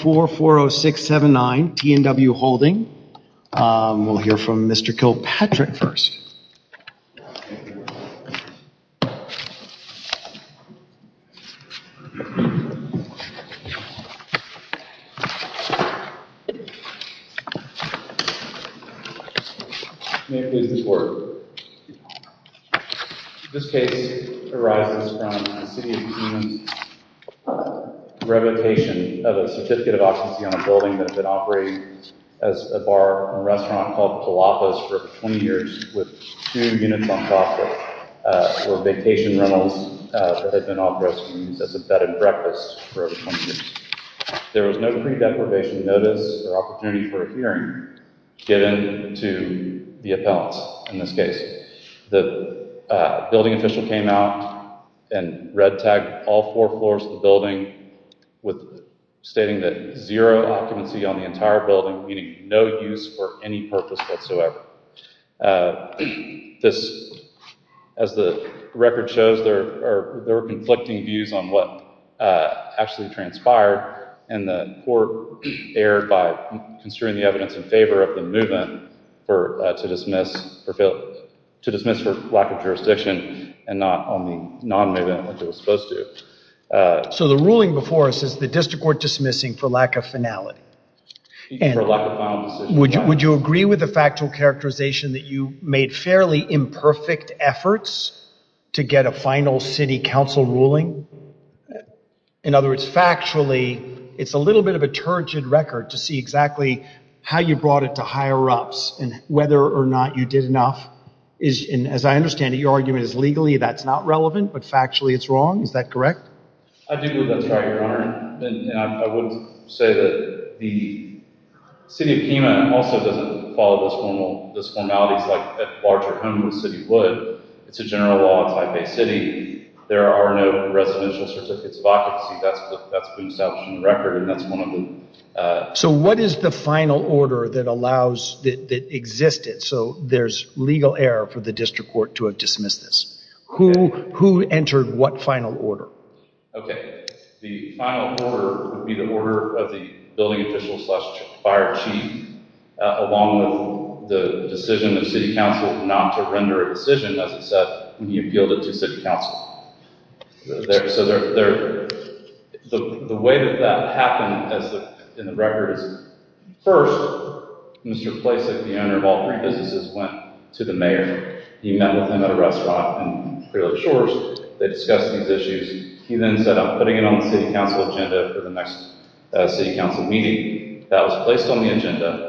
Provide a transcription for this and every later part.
440679 T&W Holding. We'll hear from Mr. Kilpatrick first. May it please the Court. This case arises from the City of Kemah's revocation of a Certificate of Occupancy on a building that had been operating as a bar and restaurant called Palapos for over 20 years, with two units uncoffered for vacation rentals that had been operating as a bed and breakfast for over 20 years. There was no pre-deprivation notice or opportunity for a hearing given to the appellants in this case. The building official came out and red-tagged all four floors of the building, stating that zero occupancy on the entire building, meaning no use for any purpose whatsoever. As the record shows, there were conflicting views on what actually transpired, and the Court erred by construing the evidence in favor of the movement to dismiss for lack of jurisdiction and not on the non-movement which it was supposed to. So the ruling before us is the District Court dismissing for lack of finality. For lack of final decision. Would you agree with the factual characterization that you made fairly imperfect efforts to get a final City Council ruling? In other words, factually, it's a little bit of a turgid record to see exactly how you brought it to higher ups and whether or not you did enough. As I understand it, your argument is legally that's not relevant, but factually it's wrong. Is that correct? I do believe that's right, Your Honor. I would say that the City of Pima also doesn't follow those formalities like a larger home in the City would. It's a general law, it's a type A city. There are no residential certificates of occupancy. That's been established in the record and that's one of them. So what is the final order that allows, that existed, so there's legal error for the District Court to have dismissed this? Who entered what final order? Okay. The final order would be the order of the building official slash fire chief along with the decision of City Council not to render a decision, as it said, when he appealed it to City Council. So the way that that happened in the record is, first, Mr. Plasek, the owner of all three businesses, went to the mayor. He met with him at a restaurant in Frelip Shores. They discussed these issues. He then said, I'm putting it on the City Council agenda for the next City Council meeting. That was placed on the agenda.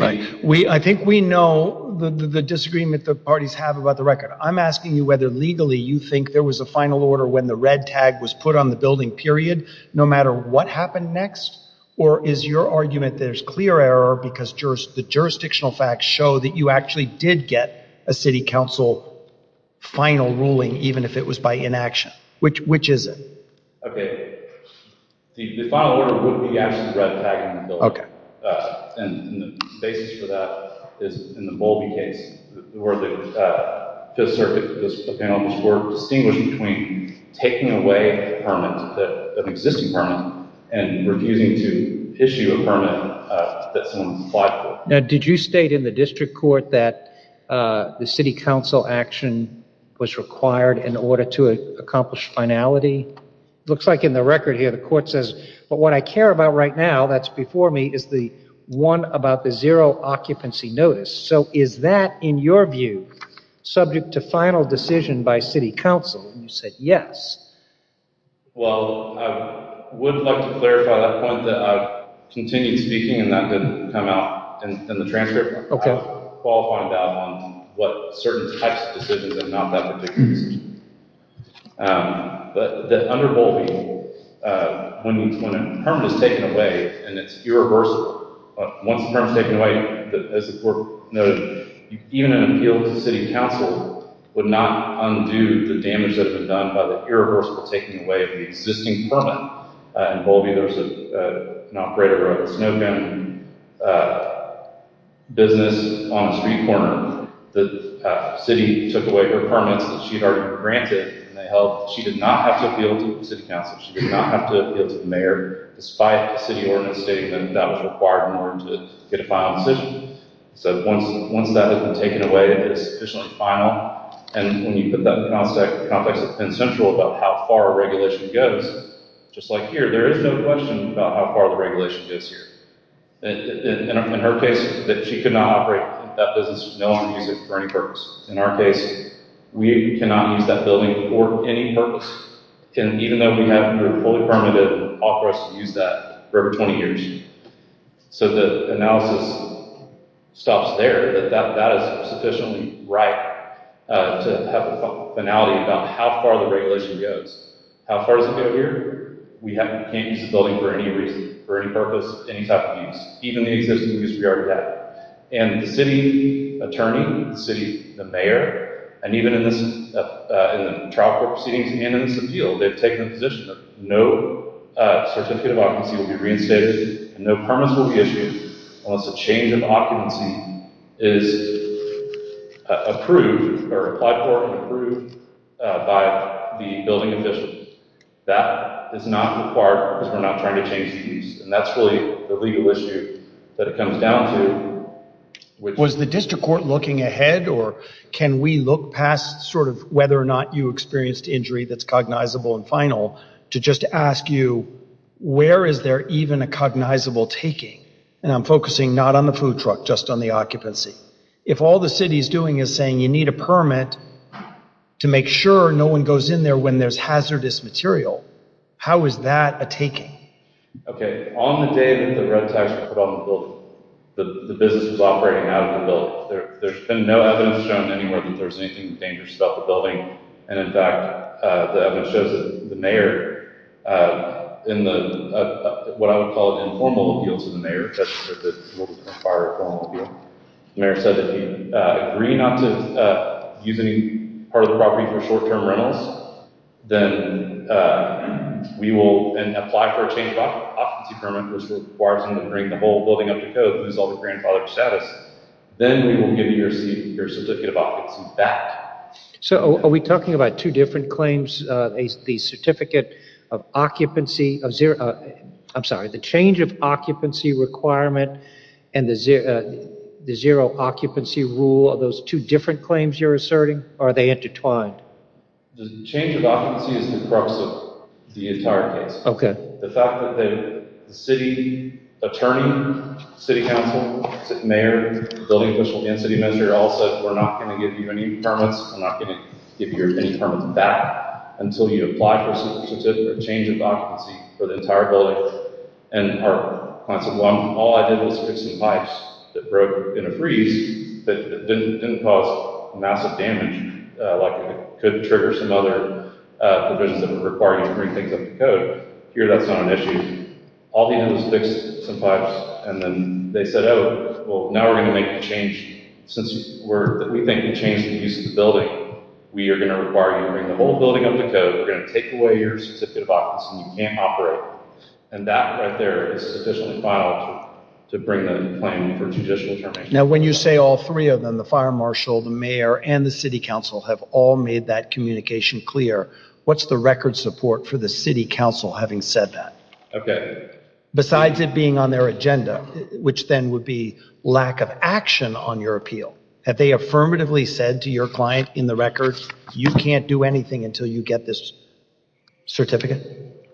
I think we know the disagreement the parties have about the record. I'm asking you whether, legally, you think there was a final order when the red tag was put on the building, period, no matter what happened next? Or is your argument that there's clear error because the jurisdictional facts show that you actually did get a City Council final ruling, even if it was by inaction? Which is it? Okay. The final order would be actually the red tag on the building. And the basis for that is in the Bowlby case, where the Fifth Circuit, the penalties were distinguished between taking away a permit, an existing permit, and refusing to issue a permit that someone supplied for it. Now, did you state in the district court that the City Council action was required in order to accomplish finality? It looks like in the record here, the court says, but what I care about right now, that's before me, is the one about the zero occupancy notice. So, is that, in your view, subject to final decision by City Council? And you said, yes. Well, I would like to clarify that point that I've continued speaking, and that didn't come out in the transcript. Okay. I'll find out what certain types of decisions are not that ridiculous. But under Bowlby, when a permit is taken away, and it's irreversible, once the permit is taken away, as the court noted, even an appeal to City Council would not undo the damage that had been done by the irreversible taking away of the existing permit. In Bowlby, there was an operator who had a snow cone business on a street corner. The city took away her permits that she had already been granted, and she did not have to appeal to City Council. She did not have to appeal to the mayor, despite the city ordinance stating that that was required in order to get a final decision. So, once that had been taken away, it was officially final. And when you put that in context with Penn Central about how far a regulation goes, just like here, there is no question about how far the regulation goes here. In her case, she could not operate that business, no one could use it for any purpose. In our case, we cannot use that building for any purpose, even though we have a fully permitted authorize to use that for over 20 years. So, the analysis stops there. That is sufficiently right to have a finality about how far the regulation goes. How far does it go here? We can't use the building for any purpose, any type of use, even the existing use we already have. And the city attorney, the mayor, and even in the trial proceedings and in this appeal, they have taken the position that no certificate of occupancy will be reinstated, and no permits will be issued unless a change of occupancy is approved or applied for and approved by the building official. That is not the part, because we're not trying to change the use, and that's really the legal issue that it comes down to. Was the district court looking ahead, or can we look past sort of whether or not you experienced injury that's cognizable and final, to just ask you, where is there even a cognizable taking? And I'm focusing not on the food truck, just on the occupancy. If all the city is doing is saying you need a permit to make sure no one goes in there when there's hazardous material, how is that a taking? Okay, on the day that the red tags were put on the building, the business was operating out of the building. There's been no evidence shown anywhere that there's anything dangerous about the building, and in fact, the evidence shows that the mayor, in what I would call an informal appeal to the mayor, the mayor said that if you agree not to use any part of the property for short-term rentals, then we will apply for a change of occupancy permit, which will require someone to bring the whole building up to code and lose all the grandfather status. Then we will give you your certificate of occupancy back. So are we talking about two different claims, the certificate of occupancy, I'm sorry, the change of occupancy requirement and the zero occupancy rule, are those two different claims you're asserting, or are they intertwined? The change of occupancy is the crux of the entire case. Okay. The fact that the city attorney, city council, mayor, building official, and city manager all said we're not going to give you any permits, we're not going to give you any permits back until you apply for a change of occupancy for the entire building, and all I did was fix some pipes that broke in a freeze that didn't cause massive damage, like it could trigger some other provisions that would require you to bring things up to code. Here, that's not an issue. All he did was fix some pipes, and then they said, oh, well, now we're going to make the change. Since we think you changed the use of the building, we are going to require you to bring the whole building up to code. We're going to take away your certificate of occupancy. You can't operate. And that right there is officially filed to bring the claim for judicial determination. Now, when you say all three of them, the fire marshal, the mayor, and the city council have all made that communication clear, what's the record support for the city council having said that? Okay. Besides it being on their agenda, which then would be lack of action on your appeal, have they affirmatively said to your client in the record, you can't do anything until you get this certificate?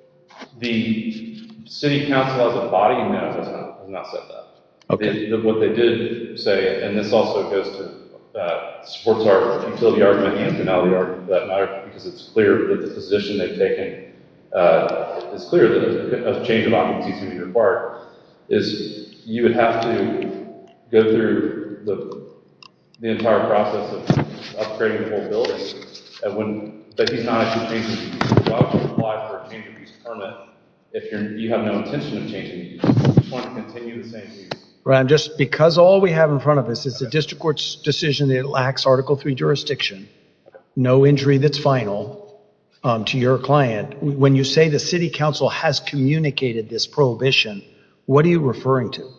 The city council as a body manager has not said that. Okay. What they did say, and this also goes to sports art, utility art, and finale art, for that matter, because it's clear that the position they've taken is clear of change of occupancy to be required, is you would have to go through the entire process of upgrading the whole building. But he's not actually changing the use of the job to apply for a change of use permit. If you have no intention of changing the use, you just want to continue the same use. Brian, just because all we have in front of us is a district court's decision that lacks Article III jurisdiction, no injury that's final to your client, when you say the city council has communicated this prohibition, what are you referring to?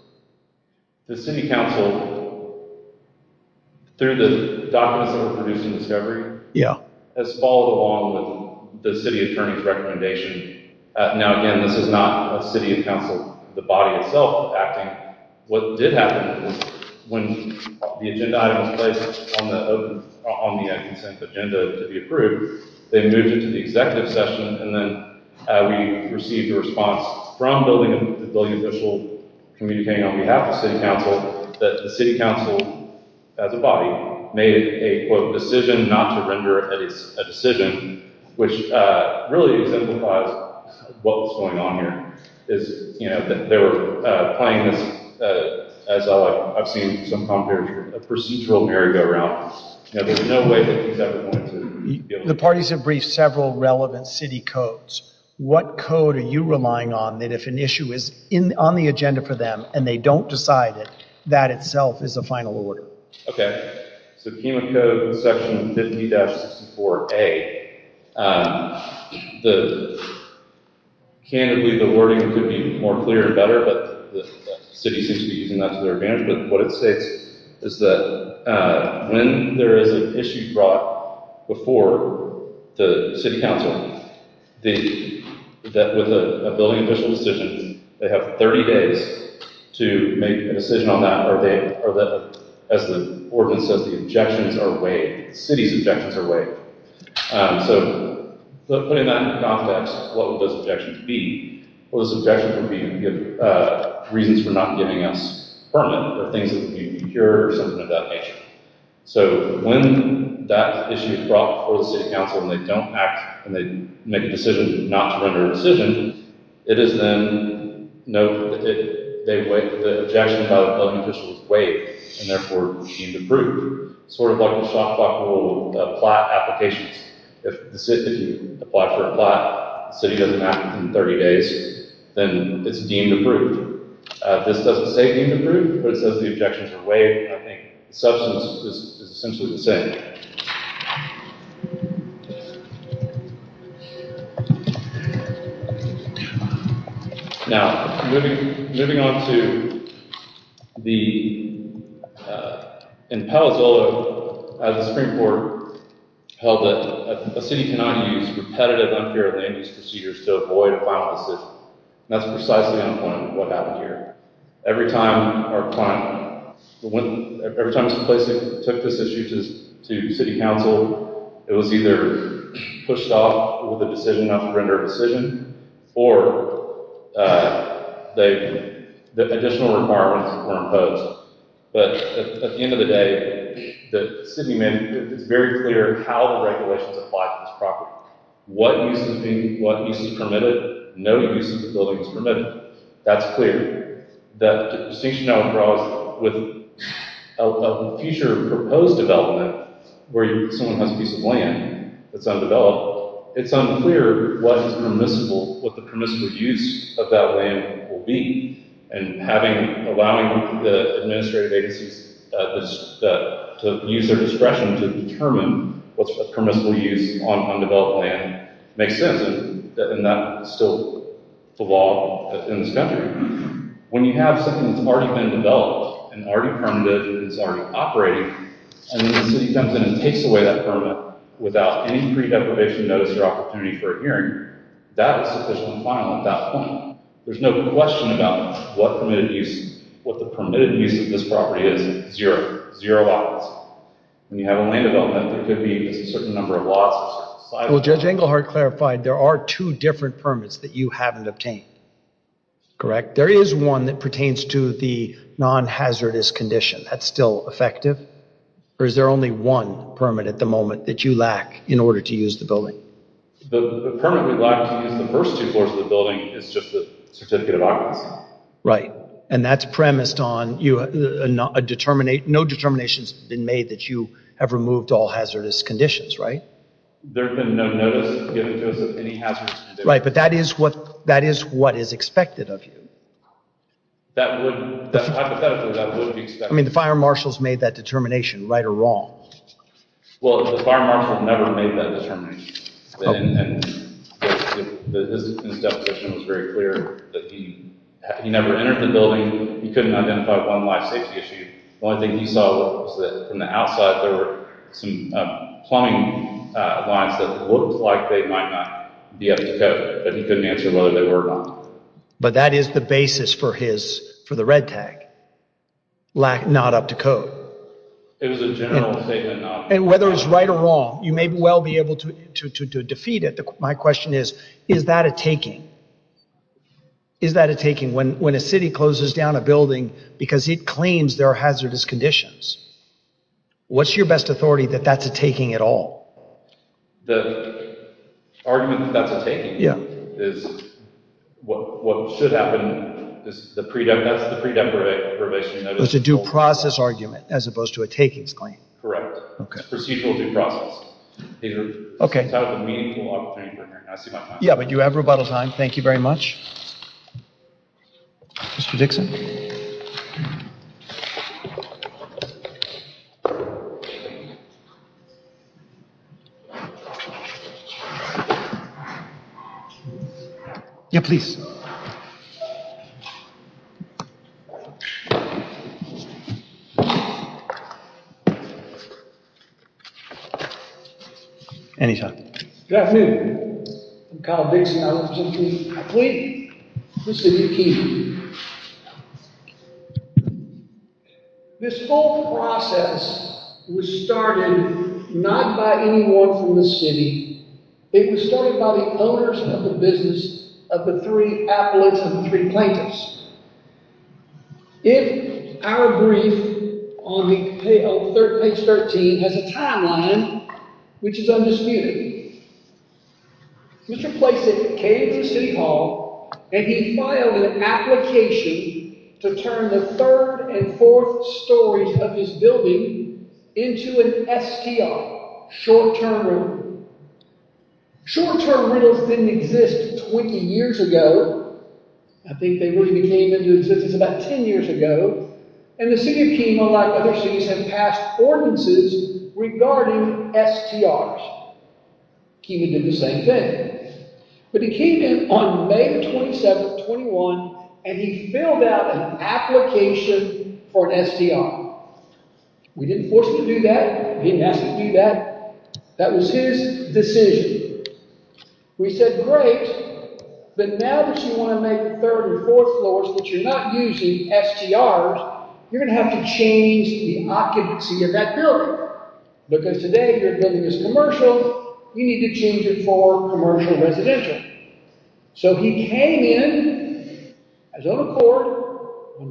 The city council, through the documents that were produced in discovery, has followed along with the city attorney's recommendation. Now, again, this is not a city council, the body itself acting. What did happen was when the agenda item was placed on the consent agenda to be approved, they moved it to the executive session, and then we received a response from the building official communicating on behalf of the city council that the city council, as a body, made a, quote, decision not to render a decision, which really exemplifies what was going on here. They were playing this, as I've seen some commentary, a procedural merry-go-round. There was no way that these guys were going to deal with it. The parties have briefed several relevant city codes. What code are you relying on that if an issue is on the agenda for them and they don't decide it, that itself is a final order? Okay. So the human code, Section 50-64A, candidly, the wording could be more clear and better, but the city seems to be using that to their advantage. But what it states is that when there is an issue brought before the city council, with a building official's decision, they have 30 days to make a decision on that, or as the ordinance says, the objections are waived. The city's objections are waived. So putting that into context, what would those objections be? Well, those objections would be reasons for not giving us a permit, or things that need to be procured, or something of that nature. So when that issue is brought before the city council and they don't act, and they make a decision not to render a decision, it is then noted that the objection about a building official's waive, and therefore, it needs to be approved. Sort of like the shot clock rule of plat applications. If the city doesn't act within 30 days, then it's deemed approved. This doesn't say deemed approved, but it says the objections are waived, and I think the substance is essentially the same. Now, moving on to the imposal of the Supreme Court, held that a city cannot use repetitive, unparalleled land use procedures to avoid a final decision. That's precisely what happened here. Every time some place took this issue to city council, it was either pushed off with a decision not to render a decision, or the additional requirements were imposed. But at the end of the day, it's very clear how the regulations apply to this property. What use is permitted, no use of the building is permitted. That's clear. That distinction now across with a future proposed development, where someone has a piece of land that's undeveloped, it's unclear what the permissible use of that land will be. And allowing the administrative agencies to use their discretion to determine what's permissible use on undeveloped land makes sense. And that's still the law in this country. When you have something that's already been developed and already permitted and is already operating, and the city comes in and takes away that permit without any pre-degradation notice or opportunity for a hearing, that is sufficient to file at that point. There's no question about what the permitted use of this property is. Zero. Zero options. When you have a land development, there could be a certain number of lots. Well, Judge Englehart clarified there are two different permits that you haven't obtained. Correct? There is one that pertains to the non-hazardous condition. That's still effective? Or is there only one permit at the moment that you lack in order to use the building? The permit we lack to use the first two floors of the building is just the certificate of occupancy. Right. And that's premised on no determinations have been made that you have removed all hazardous conditions, right? There's been no notice given to us of any hazardous conditions. Right, but that is what is expected of you. Hypothetically, that would be expected. I mean, the fire marshal's made that determination, right or wrong? Well, the fire marshal never made that determination. His definition was very clear. He never entered the building. He couldn't identify one life safety issue. The only thing he saw was that from the outside there were some plumbing lines that looked like they might not be up to code, but he couldn't answer whether they were or not. But that is the basis for the red tag, not up to code. It was a general statement. And whether it's right or wrong, you may well be able to defeat it. My question is, is that a taking? Is that a taking when a city closes down a building because it claims there are hazardous conditions? What's your best authority that that's a taking at all? The argument that that's a taking is what should happen. That's the pre-dem probation notice. It's a due process argument as opposed to a takings claim. Correct. It's procedural due process. Okay. It's a meaningful opportunity for me. I see my time. Yeah, but you have rebuttal time. Thank you very much. Mr. Dixon? Yeah, please. Any time. Good afternoon. I'm Kyle Dixon. I represent the city of Keene. I plead the city of Keene. This whole process was started not by anyone from the city. It was started by the owners of the business of the three appellates and three plaintiffs. If our brief on page 13 has a timeline, which is undisputed, Mr. Placid came to City Hall and he filed an application to turn the third and fourth stories of his building into an STR, short-term rental. Short-term rentals didn't exist 20 years ago. I think they really became into existence about 10 years ago. And the city of Keene, unlike other cities, has passed ordinances regarding STRs. Keene did the same thing. But he came in on May 27, 21, and he filled out an application for an STR. We didn't force him to do that. We didn't ask him to do that. That was his decision. We said, great, but now that you want to make third and fourth floors that you're not using STRs, you're going to have to change the occupancy of that building. Remember, because today your building is commercial, you need to change it for commercial residential. So he came in on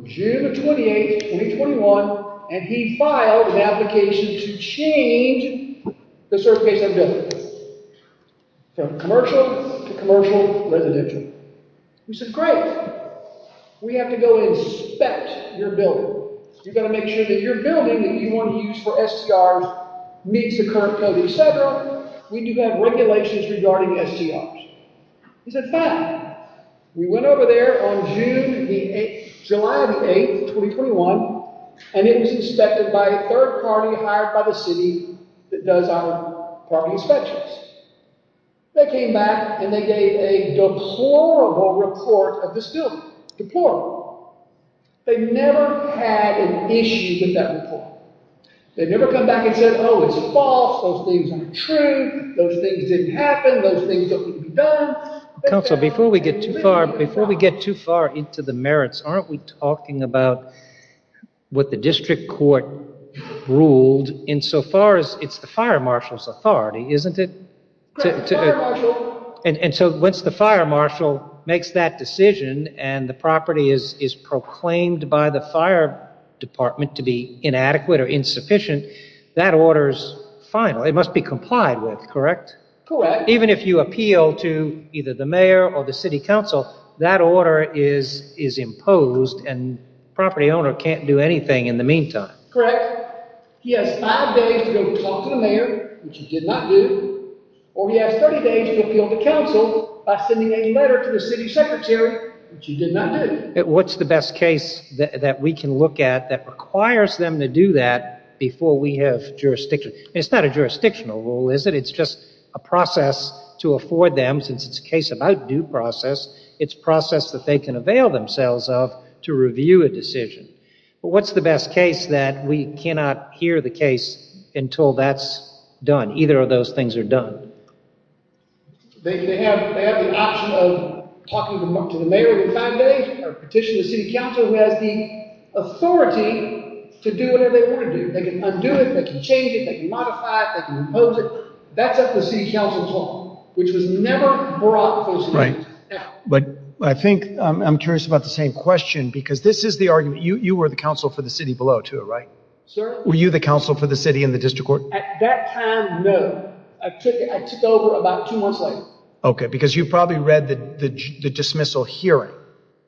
June 28, 2021, and he filed an application to change the surface of the building from commercial to commercial residential. We said, great. We have to go inspect your building. You've got to make sure that your building that you want to use for STRs meets the current code, et cetera. We do have regulations regarding STRs. He said, fine. We went over there on July 8, 2021, and it was inspected by a third party hired by the city that does our parking inspections. They came back, and they gave a deplorable report of this building. Deplorable. They never had an issue with that report. They never come back and said, oh, it's false. Those things aren't true. Those things didn't happen. Those things don't need to be done. Council, before we get too far into the merits, aren't we talking about what the district court ruled insofar as it's the fire marshal's authority, isn't it? Once the fire marshal makes that decision and the property is proclaimed by the fire department to be inadequate or insufficient, that order is final. It must be complied with, correct? Correct. Even if you appeal to either the mayor or the city council, that order is imposed, and the property owner can't do anything in the meantime. Correct. He has five days to go talk to the mayor, which he did not do, or he has 30 days to appeal to council by sending a letter to the city secretary, which he did not do. What's the best case that we can look at that requires them to do that before we have jurisdiction? It's not a jurisdictional rule, is it? It's just a process to afford them, since it's a case about due process. It's a process that they can avail themselves of to review a decision. But what's the best case that we cannot hear the case until that's done? Either of those things are done. They have the option of talking to the mayor every five days or petitioning the city council, who has the authority to do whatever they want to do. They can undo it, they can change it, they can modify it, they can impose it. That's up to the city council's law, which was never brought before. I think I'm curious about the same question, because this is the argument. You were the counsel for the city below, too, right? Sir? Were you the counsel for the city in the district court? At that time, no. I took over about two months later. Okay, because you probably read the dismissal hearing.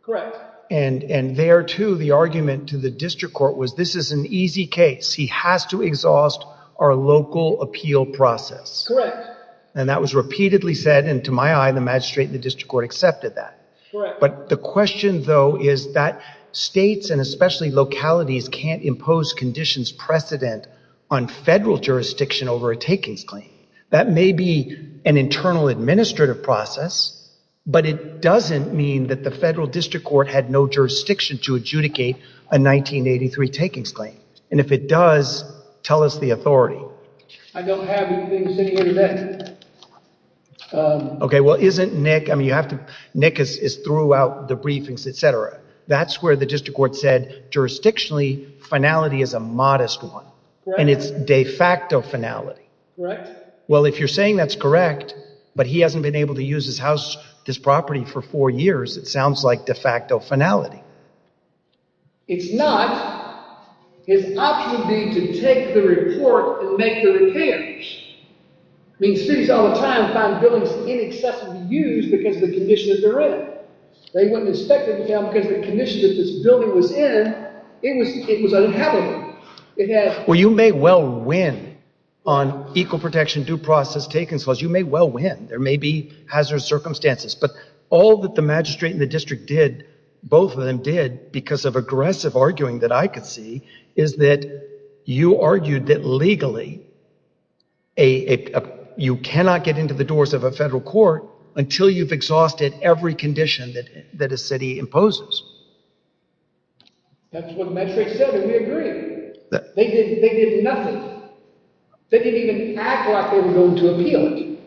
Correct. And there, too, the argument to the district court was this is an easy case. He has to exhaust our local appeal process. Correct. And that was repeatedly said, and to my eye, the magistrate and the district court accepted that. Correct. But the question, though, is that states and especially localities can't impose conditions precedent on federal jurisdiction over a takings claim. That may be an internal administrative process, but it doesn't mean that the federal district court had no jurisdiction to adjudicate a 1983 takings claim. And if it does, tell us the authority. I don't have anything sitting here today. Okay, well, isn't Nick – I mean, you have to – Nick is throughout the briefings, et cetera. That's where the district court said jurisdictionally finality is a modest one. Correct. And it's de facto finality. Correct. Well, if you're saying that's correct, but he hasn't been able to use his house, his property for four years, it sounds like de facto finality. It's not. His option would be to take the report and make the repairs. I mean, cities all the time find buildings inaccessible to use because of the condition that they're in. They wouldn't inspect them because of the condition that this building was in. It was unhappily. Well, you may well win on equal protection, due process, takings clause. You may well win. There may be hazardous circumstances. But all that the magistrate and the district did, both of them did, because of aggressive arguing that I could see, is that you argued that legally you cannot get into the doors of a federal court until you've exhausted every condition that a city imposes. That's what the magistrate said, and we agree. They did nothing. They didn't even act like they were going to appeal it.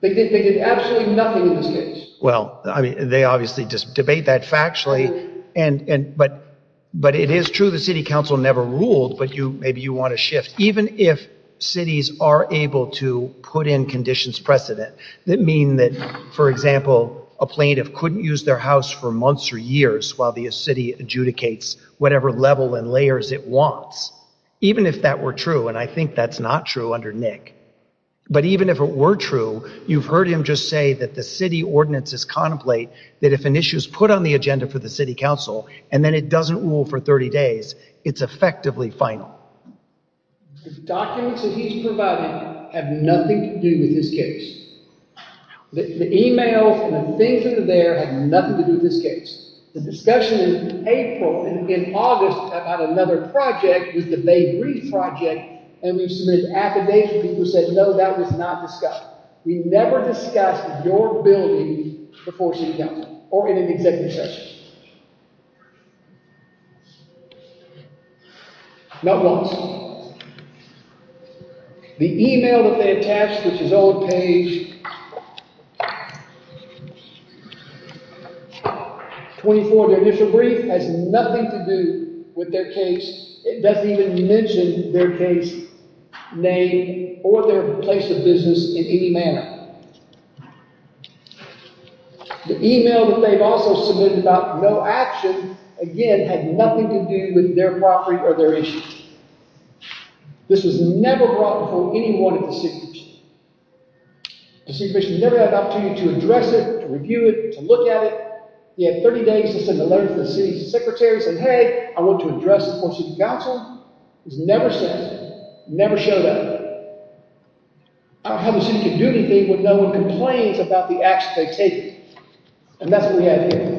They did absolutely nothing in this case. Well, they obviously debate that factually, but it is true the city council never ruled, but maybe you want to shift. Even if cities are able to put in conditions precedent that mean that, for example, a plaintiff couldn't use their house for months or years while the city adjudicates whatever level and layers it wants. Even if that were true, and I think that's not true under Nick, but even if it were true, you've heard him just say that the city ordinances contemplate that if an issue is put on the agenda for the city council and then it doesn't rule for 30 days, it's effectively final. The documents that he's providing have nothing to do with this case. The email from the things that are there have nothing to do with this case. The discussion in April and in August about another project was the Bay Breeze project, and we submitted an affidavit, and people said, no, that was not discussed. We never discussed your building before city council or in an executive session. Not once. The email that they attached, which is on page 24 of their initial brief, has nothing to do with their case. It doesn't even mention their case name or their place of business in any manner. The email that they've also submitted about no action, again, had nothing to do with their property or their issue. This was never brought before anyone at the city commission. The city commission never had the opportunity to address it, to review it, to look at it. He had 30 days to send a letter to the city's secretaries and say, hey, I want to address it before city council. It was never sent. It never showed up. I don't have a city to do anything when no one complains about the action they've taken. And that's what we have here.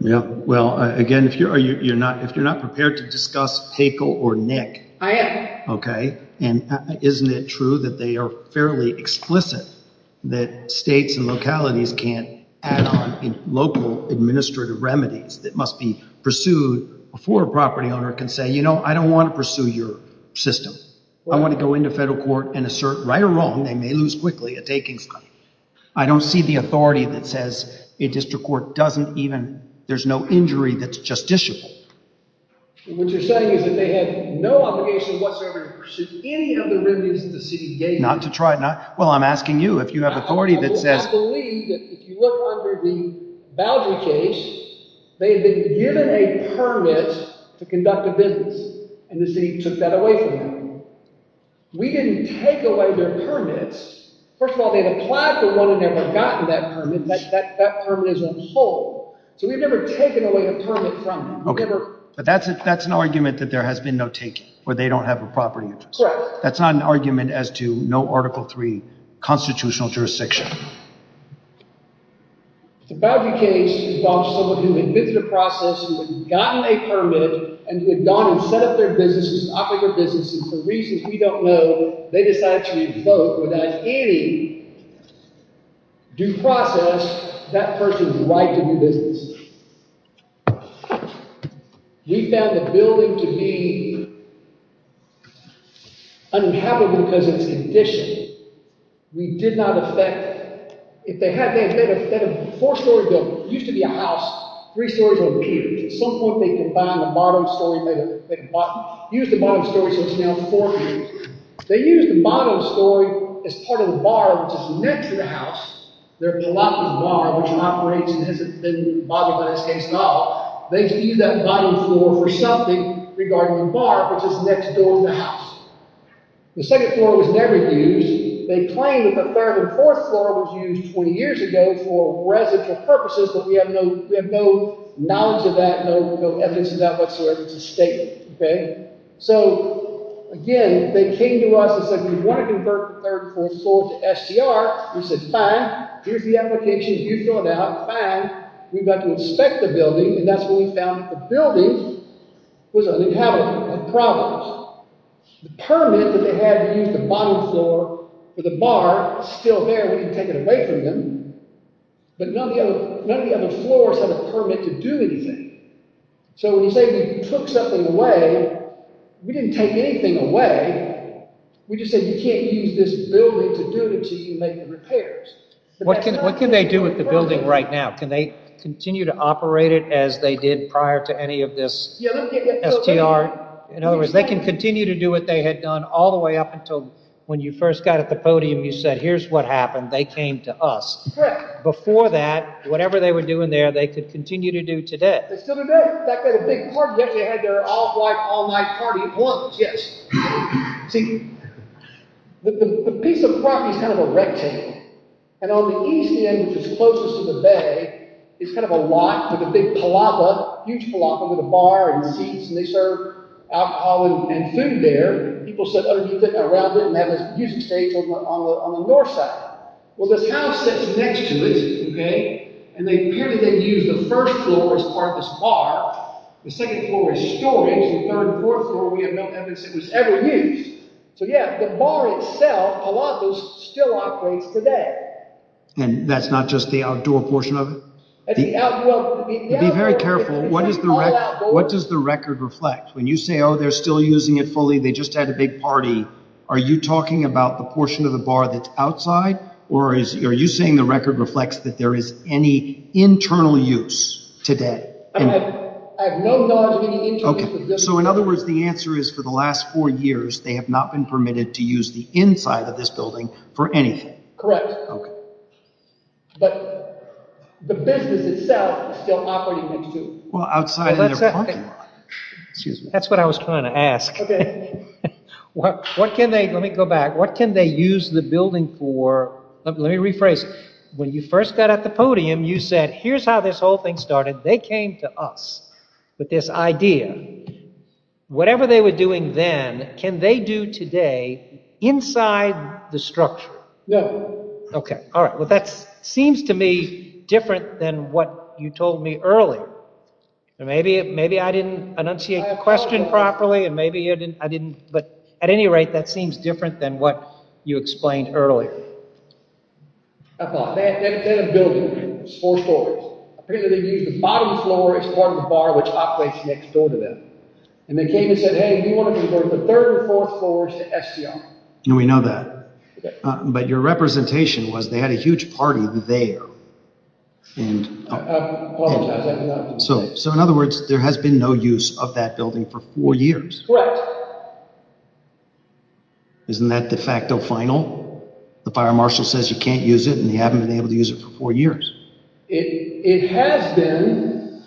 Yeah, well, again, if you're not prepared to discuss Paykel or Nick. I am. Okay. And isn't it true that they are fairly explicit that states and localities can't add on local administrative remedies that must be pursued before a property owner can say, you know, I don't want to pursue your system. I want to go into federal court and assert, right or wrong, they may lose quickly a taking site. I don't see the authority that says a district court doesn't even – there's no injury that's justiciable. What you're saying is that they have no obligation whatsoever to pursue any of the remedies that the city gave them. Not to try – well, I'm asking you if you have authority that says – I believe that if you look under the Boudreau case, they had been given a permit to conduct a business. And the city took that away from them. We didn't take away their permits. First of all, they've applied for one and never gotten that permit. That permit is on hold. So we've never taken away a permit from them. Okay. But that's an argument that there has been no taking, where they don't have a property interest. Correct. That's not an argument as to no Article III constitutional jurisdiction. The Boudreau case involves someone who admitted to the process, who had gotten a permit, and who had gone and set up their business and operated their business. And for reasons we don't know, they decided to revoke without any due process that person's right to do business. We found the building to be unhappy because of its condition. We did not effect – if they had – they had a four-story building. It used to be a house. Three stories over here. At some point, they combined the bottom story – used the bottom story so it's now four stories. They used the bottom story as part of the bar which is next to the house. They're blocking the bar, which in operation hasn't been bothered by this case at all. They can use that bottom floor for something regarding the bar, which is next door to the house. The second floor was never used. They claim that the third and fourth floor was used 20 years ago for residential purposes, but we have no knowledge of that, no evidence of that whatsoever. It's a statement. So, again, they came to us and said, we want to convert the third and fourth floor to STR. We said, fine. Here's the application. You fill it out. Fine. Now, we've got to inspect the building, and that's when we found that the building was uninhabitable. It had problems. The permit that they had to use the bottom floor for the bar is still there. We can take it away from them, but none of the other floors have a permit to do anything. So, when you say they took something away, we didn't take anything away. We just said, you can't use this building to do it until you make the repairs. What can they do with the building right now? Can they continue to operate it as they did prior to any of this STR? In other words, they can continue to do what they had done all the way up until when you first got at the podium. You said, here's what happened. They came to us. Before that, whatever they were doing there, they could continue to do today. They still do today. In fact, they had a big party. They had their off-white all-night party of blokes. See, the piece of property is kind of a rectangle. On the east end, which is closest to the bay, is kind of a lot with a big palapa, a huge palapa with a bar and seats. They serve alcohol and food there. People sit underneath it, around it, and have a music stage on the north side. Well, this house sits next to it. Apparently, they used the first floor as part of this bar. The second floor is storage. The third and fourth floor, we have no evidence it was ever used. So, yeah, the bar itself, a lot of those still operates today. And that's not just the outdoor portion of it? Be very careful. What does the record reflect? When you say, oh, they're still using it fully. They just had a big party. Are you talking about the portion of the bar that's outside, or are you saying the record reflects that there is any internal use today? I have no knowledge of any internal use. So, in other words, the answer is, for the last four years, they have not been permitted to use the inside of this building for anything? Correct. But the business itself is still operating next door. Well, outside of their parking lot. That's what I was trying to ask. Let me go back. What can they use the building for? Let me rephrase. When you first got at the podium, you said, here's how this whole thing started. They came to us with this idea. Whatever they were doing then, can they do today inside the structure? No. All right. Well, that seems to me different than what you told me earlier. Maybe I didn't enunciate the question properly, but at any rate, that seems different than what you explained earlier. They had a building. It was four stories. Apparently, they used the bottom floor as part of the bar which operates next door to them. And they came and said, hey, we want to convert the third and fourth floors to STI. We know that. But your representation was they had a huge party there. I apologize. So, in other words, there has been no use of that building for four years? Correct. Isn't that de facto final? The fire marshal says you can't use it, and you haven't been able to use it for four years. It has been,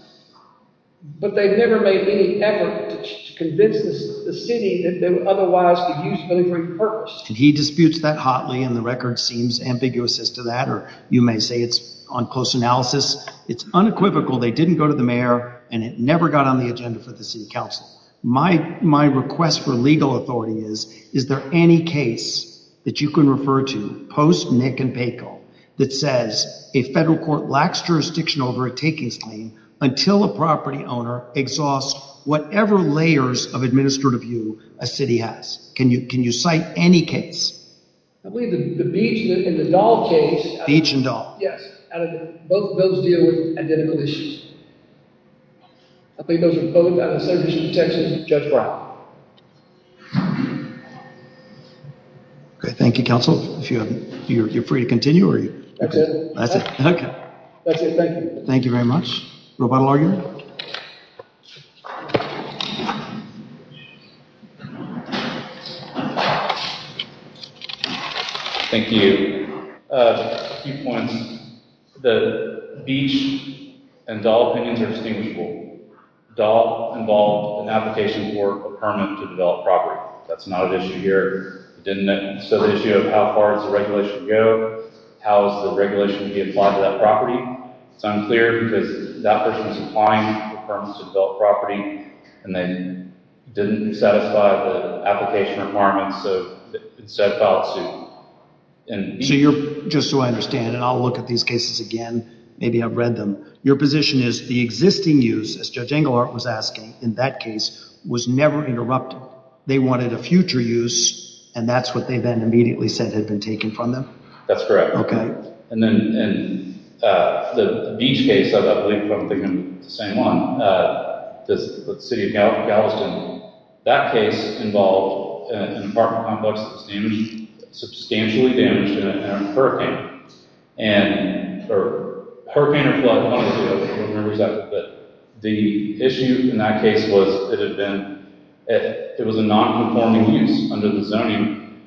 but they've never made any effort to convince the city that they would otherwise use the building for any purpose. And he disputes that hotly, and the record seems ambiguous as to that, or you may say it's on close analysis. It's unequivocal. They didn't go to the mayor, and it never got on the agenda for the city council. My request for legal authority is, is there any case that you can refer to post-Nick and Paco that says a federal court lacks jurisdiction over a takings claim until a property owner exhausts whatever layers of administrative view a city has? Can you cite any case? I believe the Beach and the Dahl case. Beach and Dahl. Yes. Both of those deal with identical issues. I believe those are both. I would suggest to Judge Brown. Okay. Thank you, counsel. You're free to continue? That's it. That's it. Okay. That's it. Thank you. Thank you very much. Roboto, are you? Thank you. A few points. The Beach and Dahl opinions are distinguishable. Dahl involved an application for a permit to develop property. That's not an issue here. So the issue of how far does the regulation go, how is the regulation to be applied to that property, it's unclear because that person is applying for a permit to develop property, and they didn't satisfy the application requirements, so instead filed suit. So just so I understand, and I'll look at these cases again, maybe I've read them, your position is the existing use, as Judge Engelhardt was asking, in that case, was never interrupted. They wanted a future use, and that's what they then immediately said had been taken from them? That's correct. And then in the Beach case, I believe I'm thinking of the same one, the City of Galveston, that case involved an apartment complex that was substantially damaged in a hurricane, or hurricane or flood, I don't remember exactly, but the issue in that case was it was a non-conforming use under the zoning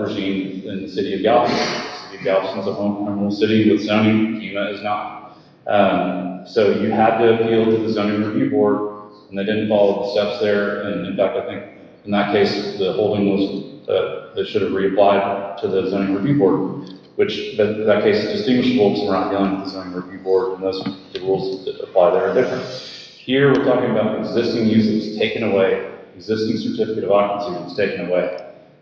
regime in the City of Galveston. City of Galveston is a home terminal city with zoning, FEMA is not. So you had to appeal to the Zoning Review Board, and they didn't follow the steps there, and in that case, the holding was that it should have reapplied to the Zoning Review Board, which in that case is distinguishable because we're not dealing with the Zoning Review Board, and those rules that apply there are different. Here we're talking about existing uses taken away, existing certificate of occupancy was taken away.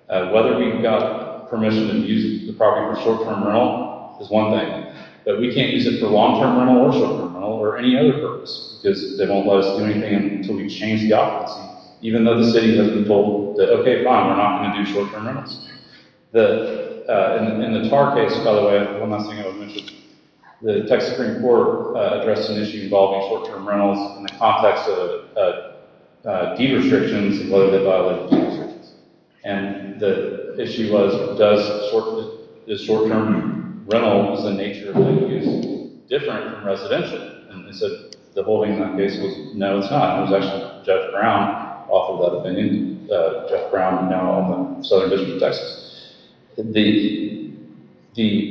Whether we've got permission to use the property for short-term rental is one thing, but we can't use it for long-term rental or short-term rental or any other purpose, because they won't let us do anything until we change the occupancy, even though the city has been told that, okay, fine, we're not going to do short-term rentals. In the Tar case, by the way, one last thing I want to mention, the Texas Supreme Court addressed an issue involving short-term rentals in the context of deed restrictions and whether they violated deed restrictions. And the issue was, is short-term rental, the nature of the use, different from residential? And they said the holding in that case was, no, it's not. It was actually Jeff Brown who offered that opinion. Jeff Brown, now on the Southern District of Texas. The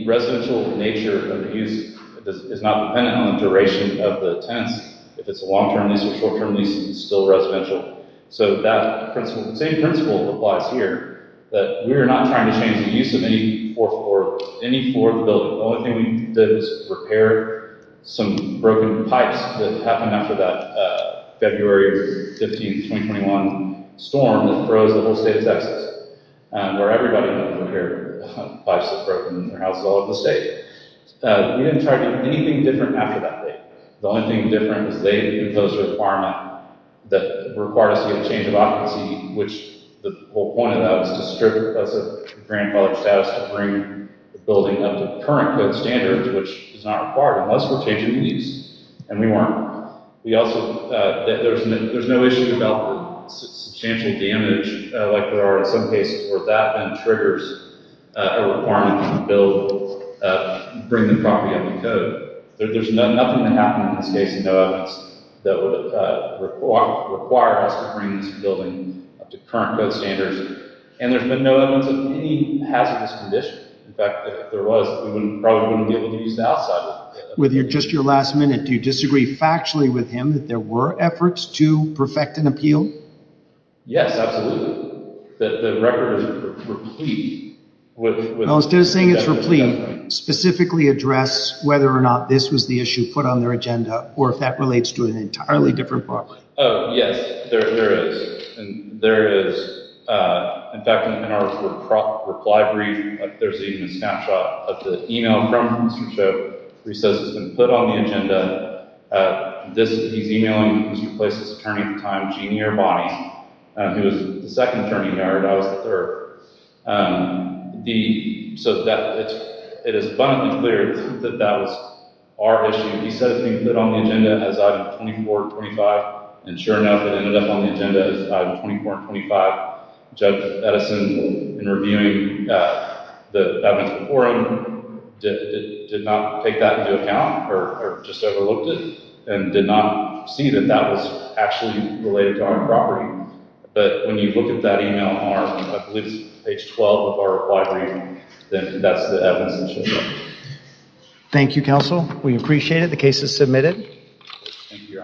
residential nature of the use is not dependent on the duration of the tenants. If it's a long-term lease or a short-term lease, it's still residential. So that principle, the same principle applies here, that we are not trying to change the use of any fourth floor, any fourth building. The only thing we did was repair some broken pipes that happened after that February 15, 2021 storm that froze the whole state of Texas, where everybody had to repair pipes that were broken in their houses all over the state. We didn't try to do anything different after that date. The only thing different was they imposed a requirement that required us to get a change of occupancy, which the whole point of that was to strip us of grandfather status to bring the building up to current code standards, which is not required unless we're changing the use. And we weren't. There's no issue about substantial damage like there are in some cases where that then triggers a requirement to bring the property under code. There's nothing that happened in this case that would require us to bring this building up to current code standards. And there's been no evidence of any hazardous condition. In fact, if there was, we probably wouldn't be able to use the outside of the building. With just your last minute, do you disagree factually with him that there were efforts to perfect an appeal? Yes, absolutely. The record is replete. Instead of saying it's replete, specifically address whether or not this was the issue put on their agenda or if that relates to an entirely different property. Yes, there is. There is. In fact, in our reply brief, there's even a snapshot of the email from Mr. Cho, where he says it's been put on the agenda. He's emailing who's replaced his attorney at the time, Jeannie Irvine, who was the second attorney hired. I was the third. It is abundantly clear that that was our issue. He said it's been put on the agenda as item 24 and 25. And sure enough, it ended up on the agenda as item 24 and 25. Judge Edison, in reviewing the evidence before him, did not take that into account or just overlooked it and did not see that that was actually related to our property. But when you look at that email on page 12 of our reply brief, that's the evidence that shows up. Thank you, Counsel. We appreciate it. The case is submitted. Thank you, Your Honor.